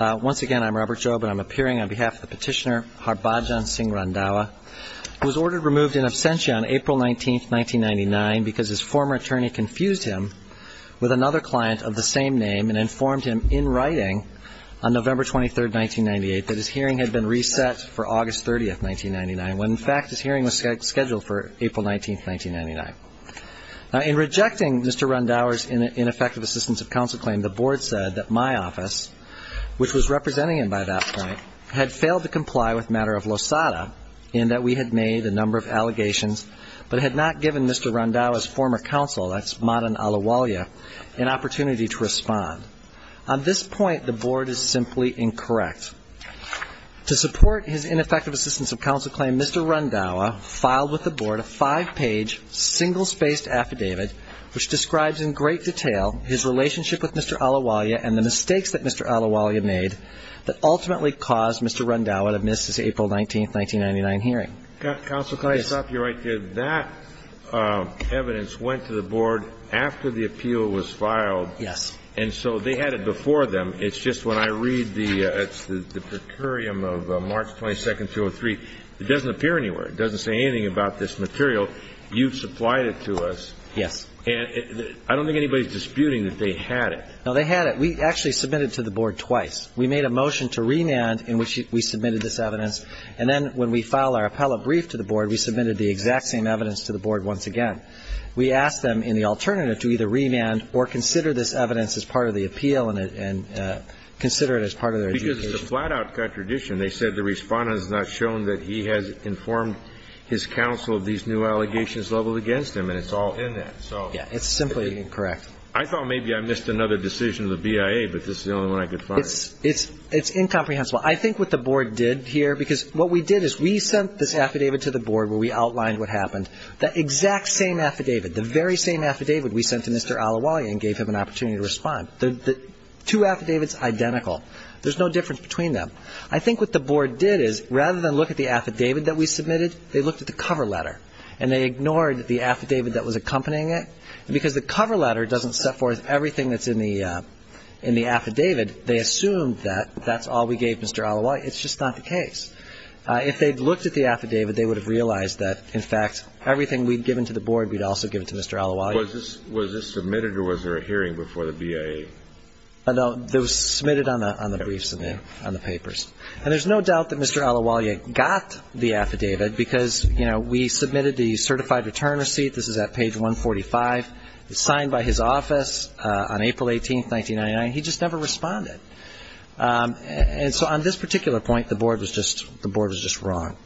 Once again, I'm Robert Jobe and I'm appearing on behalf of the petitioner Harbhajan Singh Randhawa who was ordered removed in absentia on April 19, 1999 because his former attorney confused him with another client of the same name and informed him in writing on November 23, 1998 that his hearing had been reset for August 30, 1999, when in fact his hearing was scheduled for April 19, 1999. In rejecting Mr. Randhawa's ineffective assistance of counsel claim, the board said that my office, which was representing him by that point, had failed to comply with a matter of losada in that we had made a number of allegations but had not given Mr. Randhawa's former counsel, that's Madan Alawalia, an opportunity to respond. On this point, the board is simply incorrect. To support his ineffective assistance of counsel claim, Mr. Randhawa filed with the board a five-page, single-spaced affidavit which describes in great detail his relationship with Mr. Randhawa and the mistakes that Mr. Alawalia made that ultimately caused Mr. Randhawa to miss his April 19, 1999, hearing. Counsel, can I stop you right there? That evidence went to the board after the appeal was filed. Yes. And so they had it before them. It's just when I read the per curiam of March 22, 2003, it doesn't appear anywhere. It doesn't say anything about this material. You've supplied it to us. Yes. And I don't think anybody is disputing that they had it. No, they had it. We actually submitted it to the board twice. We made a motion to remand in which we submitted this evidence. And then when we filed our appellate brief to the board, we submitted the exact same evidence to the board once again. We asked them in the alternative to either remand or consider this evidence as part of the appeal and consider it as part of their adjudication. Because it's a flat-out contradiction. They said the Respondent has not shown that he has informed his counsel of these new allegations leveled against him. And it's all in that. Yeah, it's simply incorrect. I thought maybe I missed another decision of the BIA, but this is the only one I could find. It's incomprehensible. I think what the board did here, because what we did is we sent this affidavit to the board where we outlined what happened. The exact same affidavit, the very same affidavit we sent to Mr. Al-Awali and gave him an opportunity to respond, the two affidavits identical. There's no difference between them. I think what the board did is rather than look at the affidavit that we submitted, they looked at the cover letter and they ignored the affidavit that was accompanying it. And because the cover letter doesn't set forth everything that's in the affidavit, they assumed that that's all we gave Mr. Al-Awali. It's just not the case. If they'd looked at the affidavit, they would have realized that, in fact, everything we'd given to the board, we'd also give it to Mr. Al-Awali. Was this submitted or was there a hearing before the BIA? No, it was submitted on the briefs and on the papers. And there's no doubt that Mr. Al-Awali got the affidavit because, you know, we submitted the certified return receipt. This is at page 145. It was signed by his office on April 18, 1999. He just never responded. And so on this particular point, the board was just wrong.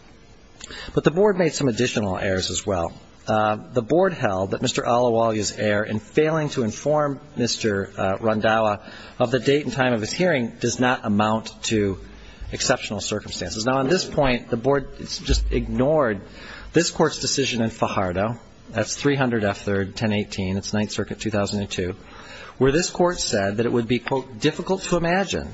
But the board made some additional errors as well. The board held that Mr. Al-Awali's error in failing to inform Mr. Rondawa of the date and time of his hearing does not amount to exceptional circumstances. Now, on this point, the board just ignored this court's decision in Fajardo. That's 300 F. 3rd, 1018. It's Ninth Circuit, 2002, where this court said that it would be, quote, difficult to imagine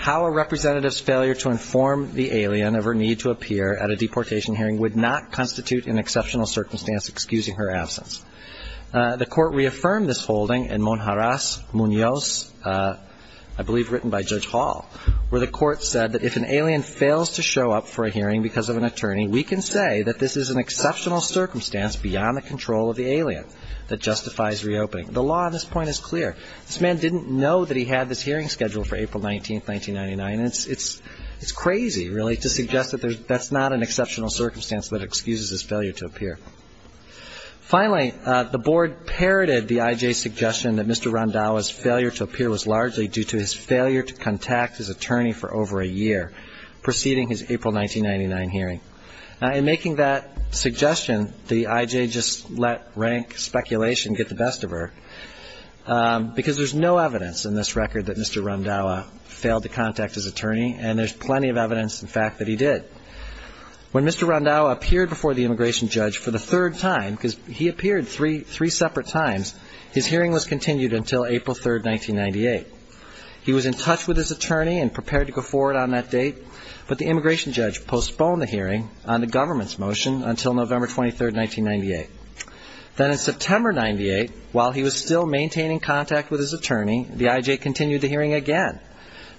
how a representative's failure to inform the alien of her need to appear at a deportation hearing would not constitute an exceptional circumstance excusing her absence. The court reaffirmed this holding in Monjarras, Muñoz, I believe written by Judge Hall, where the court said that if an alien fails to show up for a hearing because of an attorney, we can say that this is an exceptional circumstance beyond the control of the alien that justifies reopening. The law on this point is clear. This man didn't know that he had this hearing scheduled for April 19, 1999, and it's crazy, really, to suggest that that's not an exceptional circumstance that excuses his failure to appear. Finally, the board parroted the I.J.'s suggestion that Mr. Rondaua's failure to appear was largely due to his failure to contact his attorney for over a year preceding his April 1999 hearing. Now, in making that suggestion, the I.J. just let rank speculation get the best of her, because there's no evidence in this record that Mr. Rondaua failed to contact his attorney, and there's plenty of evidence, in fact, that he did. When Mr. Rondaua appeared before the immigration judge for the third time, because he appeared three separate times, his hearing was continued until April 3, 1998. He was in touch with his attorney and prepared to go forward on that date, but the immigration judge postponed the hearing on the government's motion until November 23, 1998. Then in September 98, while he was still maintaining contact with his attorney, the I.J. continued the hearing again,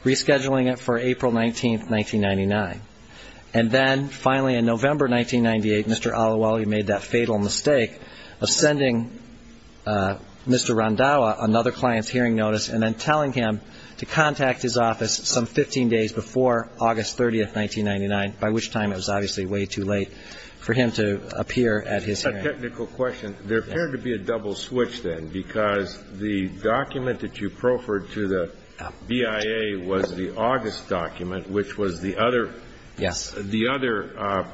rescheduling it for April 19, 1999. And then, finally, in November 1998, Mr. Alawali made that fatal mistake of sending Mr. Rondaua another client's hearing notice and then telling him to contact his office some 15 days before August 30, 1999, by which time it was obviously way too late for him to appear at his hearing. That's a technical question. Yes. There appeared to be a double switch then, because the document that you proffered to the BIA was the August document, which was the other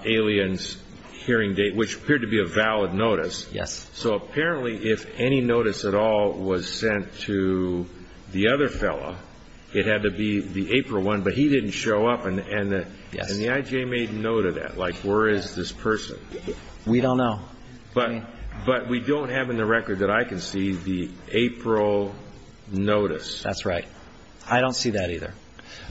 alien's hearing date, which appeared to be a valid notice. Yes. So, apparently, if any notice at all was sent to the other fellow, it had to be the April one, but he didn't show up, and the I.J. made note of that. Like, where is this person? We don't know. But we don't have in the record that I can see the April notice. That's right. I don't see that either.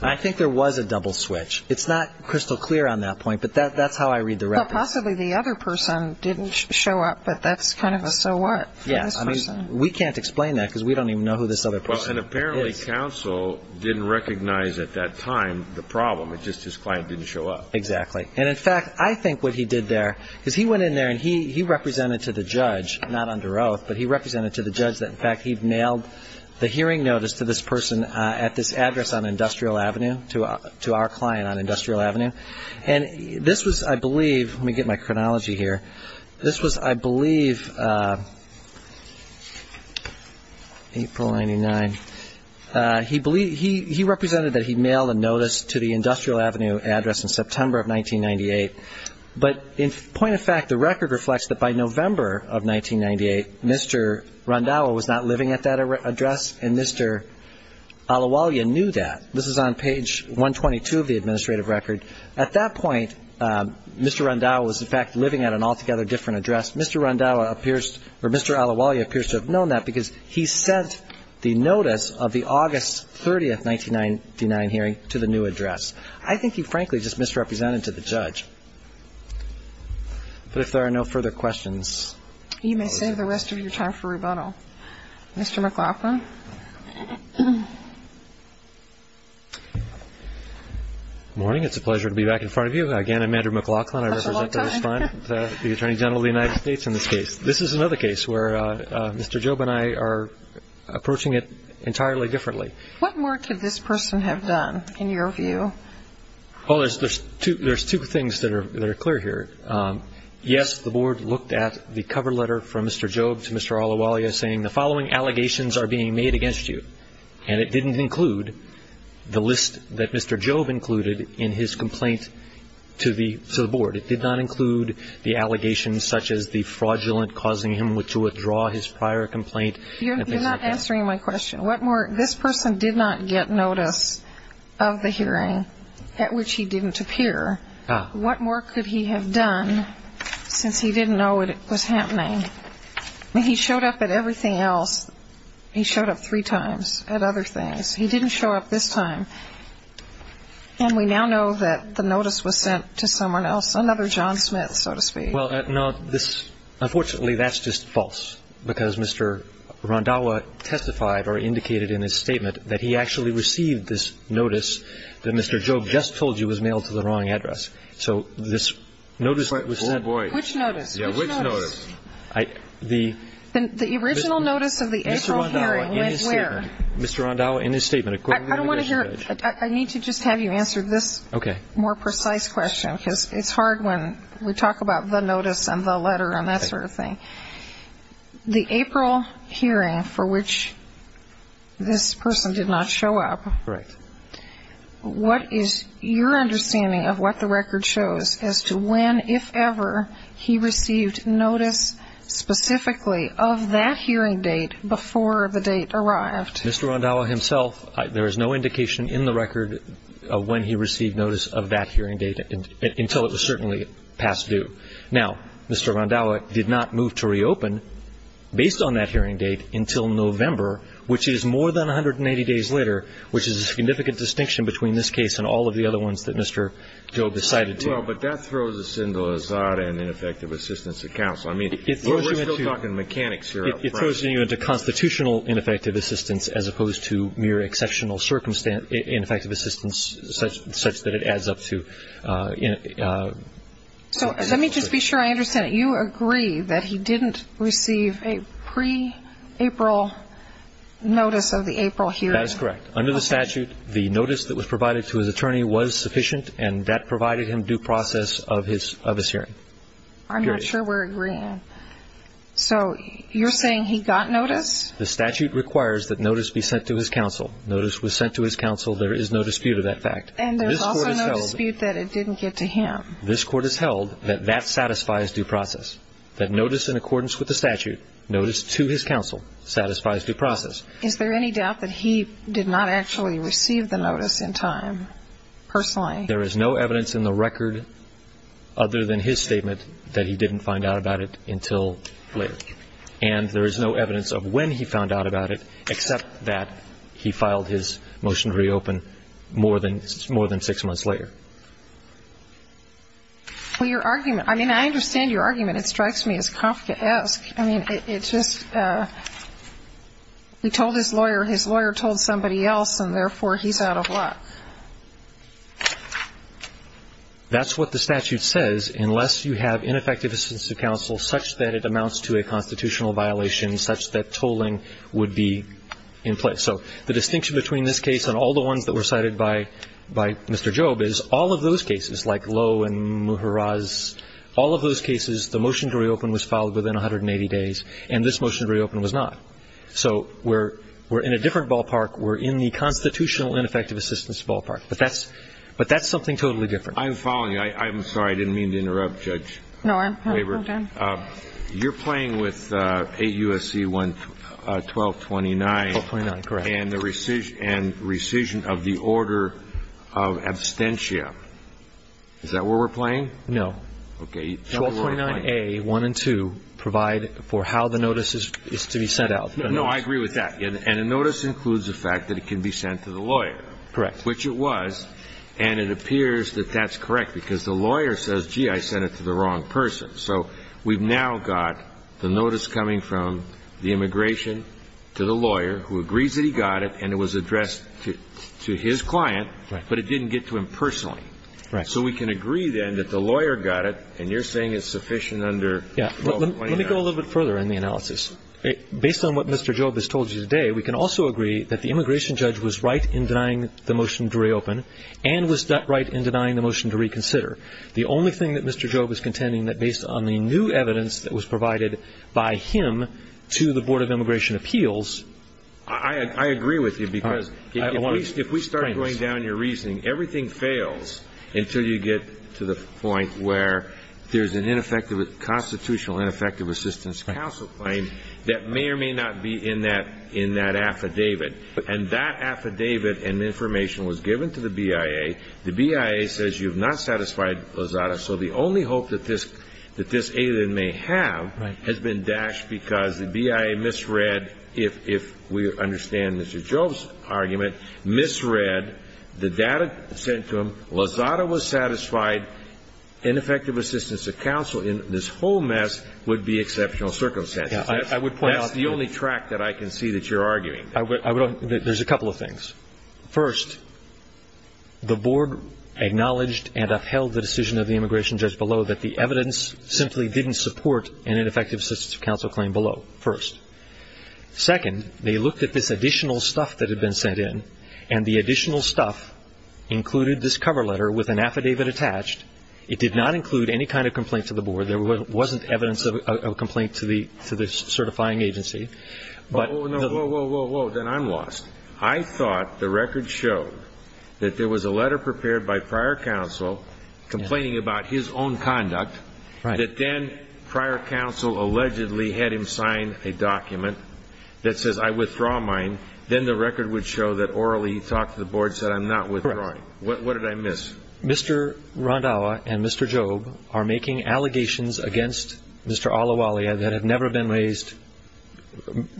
I think there was a double switch. It's not crystal clear on that point, but that's how I read the record. Possibly the other person didn't show up, but that's kind of a so what for this person. Yes. I mean, we can't explain that, because we don't even know who this other person is. And, apparently, counsel didn't recognize at that time the problem. It's just his client didn't show up. Exactly. And, in fact, I think what he did there is he went in there and he represented to the judge, not under oath, but he represented to the judge that, in fact, he'd nailed the hearing notice to this person at this address on Industrial Avenue, to our client on Industrial Avenue. And this was, I believe, let me get my chronology here. This was, I believe, April 99. He represented that he'd mailed a notice to the Industrial Avenue address in September of 1998. But, in point of fact, the record reflects that by November of 1998, Mr. Rondau was not living at that address, and Mr. Alawalia knew that. This is on page 122 of the administrative record. At that point, Mr. Rondau was, in fact, living at an altogether different address. Mr. Rondau appears or Mr. Alawalia appears to have known that, because he sent the notice of the August 30, 1999 hearing to the new address. I think he, frankly, just misrepresented to the judge. But if there are no further questions. You may save the rest of your time for rebuttal. Mr. McLaughlin? Good morning. It's a pleasure to be back in front of you. Again, I'm Andrew McLaughlin. That's a long time. I represent the Attorney General of the United States in this case. This is another case where Mr. Job and I are approaching it entirely differently. What more could this person have done, in your view? Well, there's two things that are clear here. Yes, the Board looked at the cover letter from Mr. Job to Mr. Alawalia, saying the following allegations are being made against you. And it didn't include the list that Mr. Job included in his complaint to the Board. It did not include the allegations such as the fraudulent causing him to withdraw his prior complaint. You're not answering my question. This person did not get notice of the hearing at which he didn't appear. What more could he have done since he didn't know what was happening? He showed up at everything else. He showed up three times at other things. He didn't show up this time. And we now know that the notice was sent to someone else, another John Smith, so to speak. Unfortunately, that's just false because Mr. Randhawa testified or indicated in his statement that he actually received this notice that Mr. Job just told you was mailed to the wrong address. So this notice was sent. Which notice? Yeah, which notice? The original notice of the April hearing went where? Mr. Randhawa, in his statement. I don't want to hear it. I need to just have you answer this more precise question because it's hard when we talk about the notice and the letter and that sort of thing. The April hearing for which this person did not show up. Correct. What is your understanding of what the record shows as to when, if ever, he received notice specifically of that hearing date before the date arrived? Mr. Randhawa himself, there is no indication in the record of when he received notice of that hearing date until it was certainly past due. Now, Mr. Randhawa did not move to reopen based on that hearing date until November, which is more than 180 days later, which is a significant distinction between this case and all of the other ones that Mr. Job has cited to you. Well, but that throws us into Lazada and ineffective assistance accounts. I mean, we're still talking mechanics here. It throws you into constitutional ineffective assistance as opposed to mere exceptional ineffective assistance such that it adds up to. So let me just be sure I understand it. Do you agree that he didn't receive a pre-April notice of the April hearing? That is correct. Under the statute, the notice that was provided to his attorney was sufficient and that provided him due process of his hearing. I'm not sure we're agreeing. So you're saying he got notice? The statute requires that notice be sent to his counsel. Notice was sent to his counsel. There is no dispute of that fact. And there's also no dispute that it didn't get to him. This Court has held that that satisfies due process, that notice in accordance with the statute, notice to his counsel, satisfies due process. Is there any doubt that he did not actually receive the notice in time personally? There is no evidence in the record other than his statement that he didn't find out about it until later. And there is no evidence of when he found out about it except that he filed his case six months later. Well, your argument, I mean, I understand your argument. It strikes me as Kafkaesque. I mean, it's just he told his lawyer, his lawyer told somebody else, and therefore he's out of luck. That's what the statute says, unless you have ineffective assistance to counsel such that it amounts to a constitutional violation, such that tolling would be in place. So the distinction between this case and all the ones that were cited by Mr. Jobe is all of those cases, like Lowe and Mujeraz, all of those cases the motion to reopen was filed within 180 days, and this motion to reopen was not. So we're in a different ballpark. We're in the constitutional ineffective assistance ballpark. But that's something totally different. I'm following you. I'm sorry. I didn't mean to interrupt, Judge. No, I'm fine. You're playing with 8 U.S.C. 1229. 1229, correct. And rescission of the order of absentia. Is that where we're playing? No. Okay. 1229A, 1 and 2 provide for how the notice is to be sent out. No, I agree with that. And a notice includes the fact that it can be sent to the lawyer. Correct. Which it was, and it appears that that's correct, because the lawyer says, gee, I sent it to the wrong person. So we've now got the notice coming from the immigration to the lawyer, who agrees that he got it, and it was addressed to his client, but it didn't get to him personally. Right. So we can agree, then, that the lawyer got it, and you're saying it's sufficient under 1229. Let me go a little bit further in the analysis. Based on what Mr. Job has told you today, we can also agree that the immigration judge was right in denying the motion to reopen and was not right in denying the motion to reconsider. The only thing that Mr. Job is contending that based on the new evidence that was provided by him to the Board of Immigration Appeals. I agree with you, because if we start going down your reasoning, everything fails until you get to the point where there's an ineffective constitutional ineffective assistance counsel claim that may or may not be in that affidavit. And that affidavit and information was given to the BIA. The BIA says you have not satisfied Lozada, so the only hope that this alien may have has been dashed because the BIA misread, if we understand Mr. Job's argument, misread the data sent to him. Lozada was satisfied. Ineffective assistance of counsel in this whole mess would be exceptional circumstances. That's the only track that I can see that you're arguing. There's a couple of things. First, the board acknowledged and upheld the decision of the immigration judge below that the evidence simply didn't support an ineffective assistance of counsel claim below, first. Second, they looked at this additional stuff that had been sent in, and the additional stuff included this cover letter with an affidavit attached. It did not include any kind of complaint to the board. There wasn't evidence of a complaint to the certifying agency. Whoa, whoa, whoa. Then I'm lost. I thought the record showed that there was a letter prepared by prior counsel complaining about his own conduct, that then prior counsel allegedly had him sign a document that says, I withdraw mine. Then the record would show that orally he talked to the board and said, I'm not withdrawing. What did I miss? Mr. Rondawa and Mr. Job are making allegations against Mr. Alawalia that have never been raised,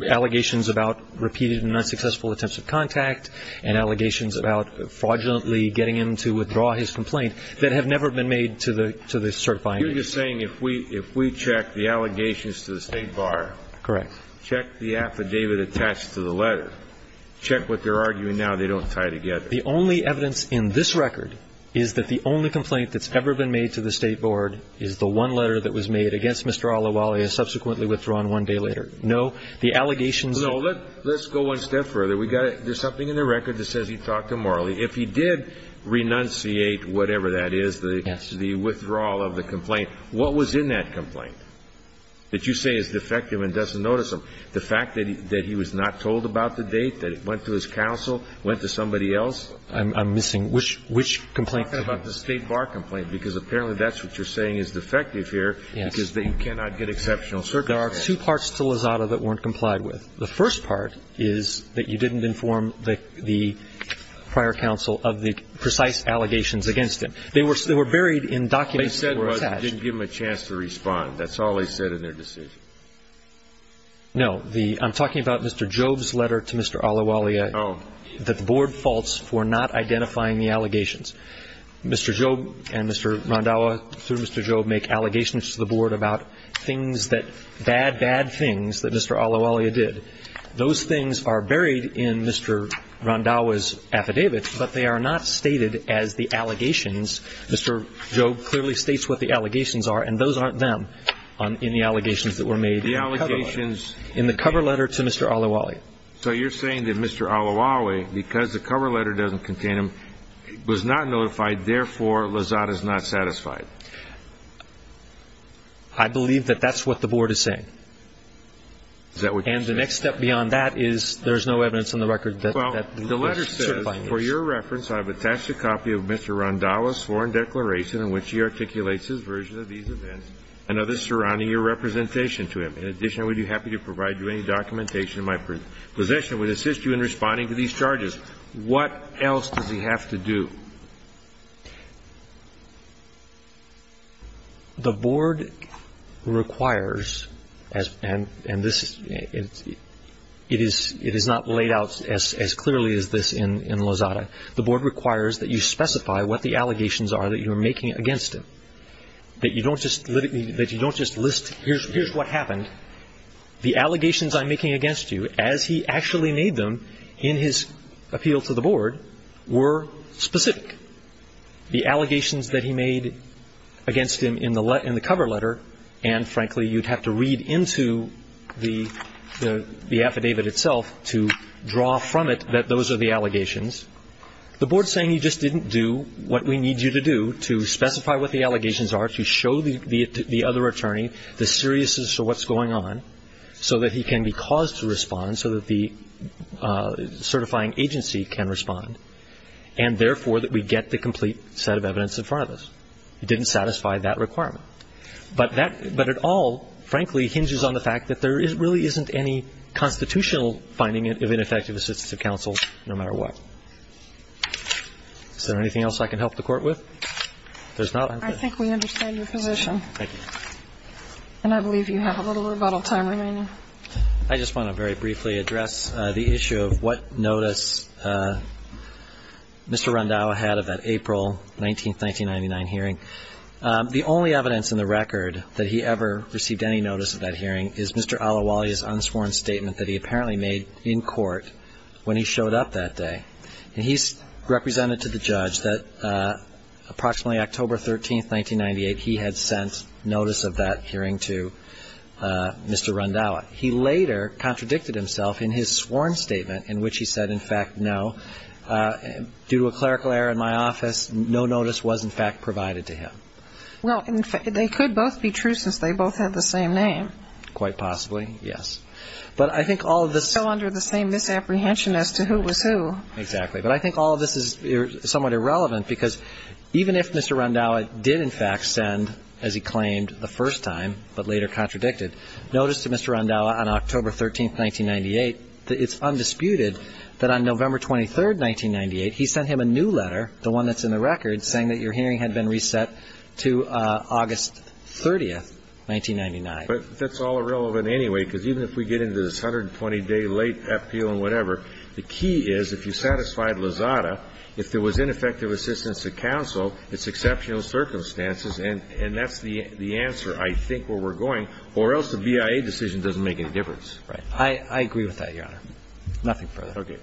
allegations about repeated and unsuccessful attempts of contact and allegations about fraudulently getting him to withdraw his complaint that have never been made to the certifying agency. You're just saying if we check the allegations to the State Bar, check the affidavit attached to the letter, check what they're arguing now, they don't tie together. The only evidence in this record is that the only complaint that's ever been made to the State Board is the one letter that was made against Mr. Alawalia subsequently withdrawn one day later. No, the allegations... No, let's go one step further. There's something in the record that says he talked to Marley. If he did renunciate, whatever that is, the withdrawal of the complaint, what was in that complaint that you say is defective and doesn't notice him? The fact that he was not told about the date, that it went to his counsel, went to somebody else? I'm missing. Which complaint? You're talking about the State Bar complaint because apparently that's what you're saying is defective here because you cannot get exceptional circumstances. There are two parts to Lozada that weren't complied with. The first part is that you didn't inform the prior counsel of the precise allegations against him. They were buried in documents that were attached. They said you didn't give them a chance to respond. That's all they said in their decision. No. I'm talking about Mr. Job's letter to Mr. Alawalia that the Board faults for not identifying the allegations. Mr. Job and Mr. Rondawa, through Mr. Job, make allegations to the Board about bad, bad things that Mr. Alawalia did. Those things are buried in Mr. Rondawa's affidavit, but they are not stated as the allegations. Mr. Job clearly states what the allegations are, and those aren't them in the allegations that were made in the cover letter to Mr. Alawalia. So you're saying that Mr. Alawalia, because the cover letter doesn't contain him, was not notified, therefore Lozada's not satisfied. I believe that that's what the Board is saying. Is that what you're saying? And the next step beyond that is there's no evidence on the record that certifies this. Well, the letter says, For your reference, I have attached a copy of Mr. Rondawa's sworn declaration in which he articulates his version of these events and others surrounding your representation to him. In addition, I would be happy to provide you any documentation of my position which assists you in responding to these charges. What else does he have to do? The Board requires, and this is... It is not laid out as clearly as this in Lozada. The Board requires that you specify what the allegations are that you're making against him. That you don't just list, here's what happened. The allegations I'm making against you, as he actually made them in his appeal to the Board, were specific. The allegations that he made against him in the cover letter, and frankly, you'd have to read into the affidavit itself to draw from it that those are the allegations. The Board's saying you just didn't do what we need you to do to specify what the allegations are, to show the other attorney the seriousness of what's going on so that he can be caused to respond, so that the certifying agency can respond. And therefore, that we get the complete set of evidence in front of us. He didn't satisfy that requirement. But it all, frankly, hinges on the fact that there really isn't any constitutional finding of ineffective assistance of counsel, no matter what. Is there anything else I can help the Court with? If there's not, I'm good. I think we understand your position. Thank you. And I believe you have a little rebuttal time remaining. I just want to very briefly address the issue of what notice Mr. Randhawa had of that April 19, 1999 hearing. The only evidence in the record that he ever received any notice of that hearing is Mr. Alawali's unsworn statement that he apparently made in court when he showed up that day. And he's represented to the judge that approximately October 13, 1998, he had sent notice of that hearing to Mr. Randhawa. He later contradicted himself in his sworn statement in which he said, in fact, no. Due to a clerical error in my office, no notice was, in fact, provided to him. Well, they could both be true since they both have the same name. Quite possibly, yes. But I think all of this... Still under the same misapprehension as to who was who. But I think all of this is somewhat irrelevant because even if Mr. Randhawa did, in fact, send, as he claimed the first time, but later contradicted, notice to Mr. Randhawa on October 13, 1998 that it's undisputed that on November 23, 1998, he sent him a new letter, the one that's in the record, saying that your hearing had been reset to August 30, 1999. But that's all irrelevant anyway because even if we get into this 120-day late appeal and whatever, the key is if you satisfied Lozada, if there was ineffective assistance to counsel, it's exceptional circumstances, and that's the answer, I think, where we're going. Or else the BIA decision doesn't make any difference. Right. I agree with that, Your Honor. Nothing further. Okay.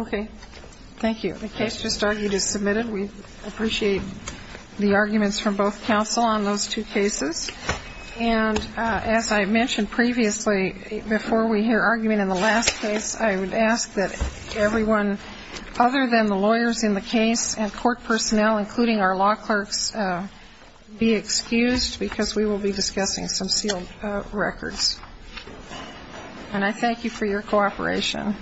Okay. Thank you. The case just argued is submitted. We appreciate the arguments from both counsel on those two cases. And as I mentioned previously, before we hear argument in the last case, I would ask that everyone, other than the lawyers in the case and court personnel, including our law clerks, be excused because we will be discussing some sealed records. And I thank you for your cooperation.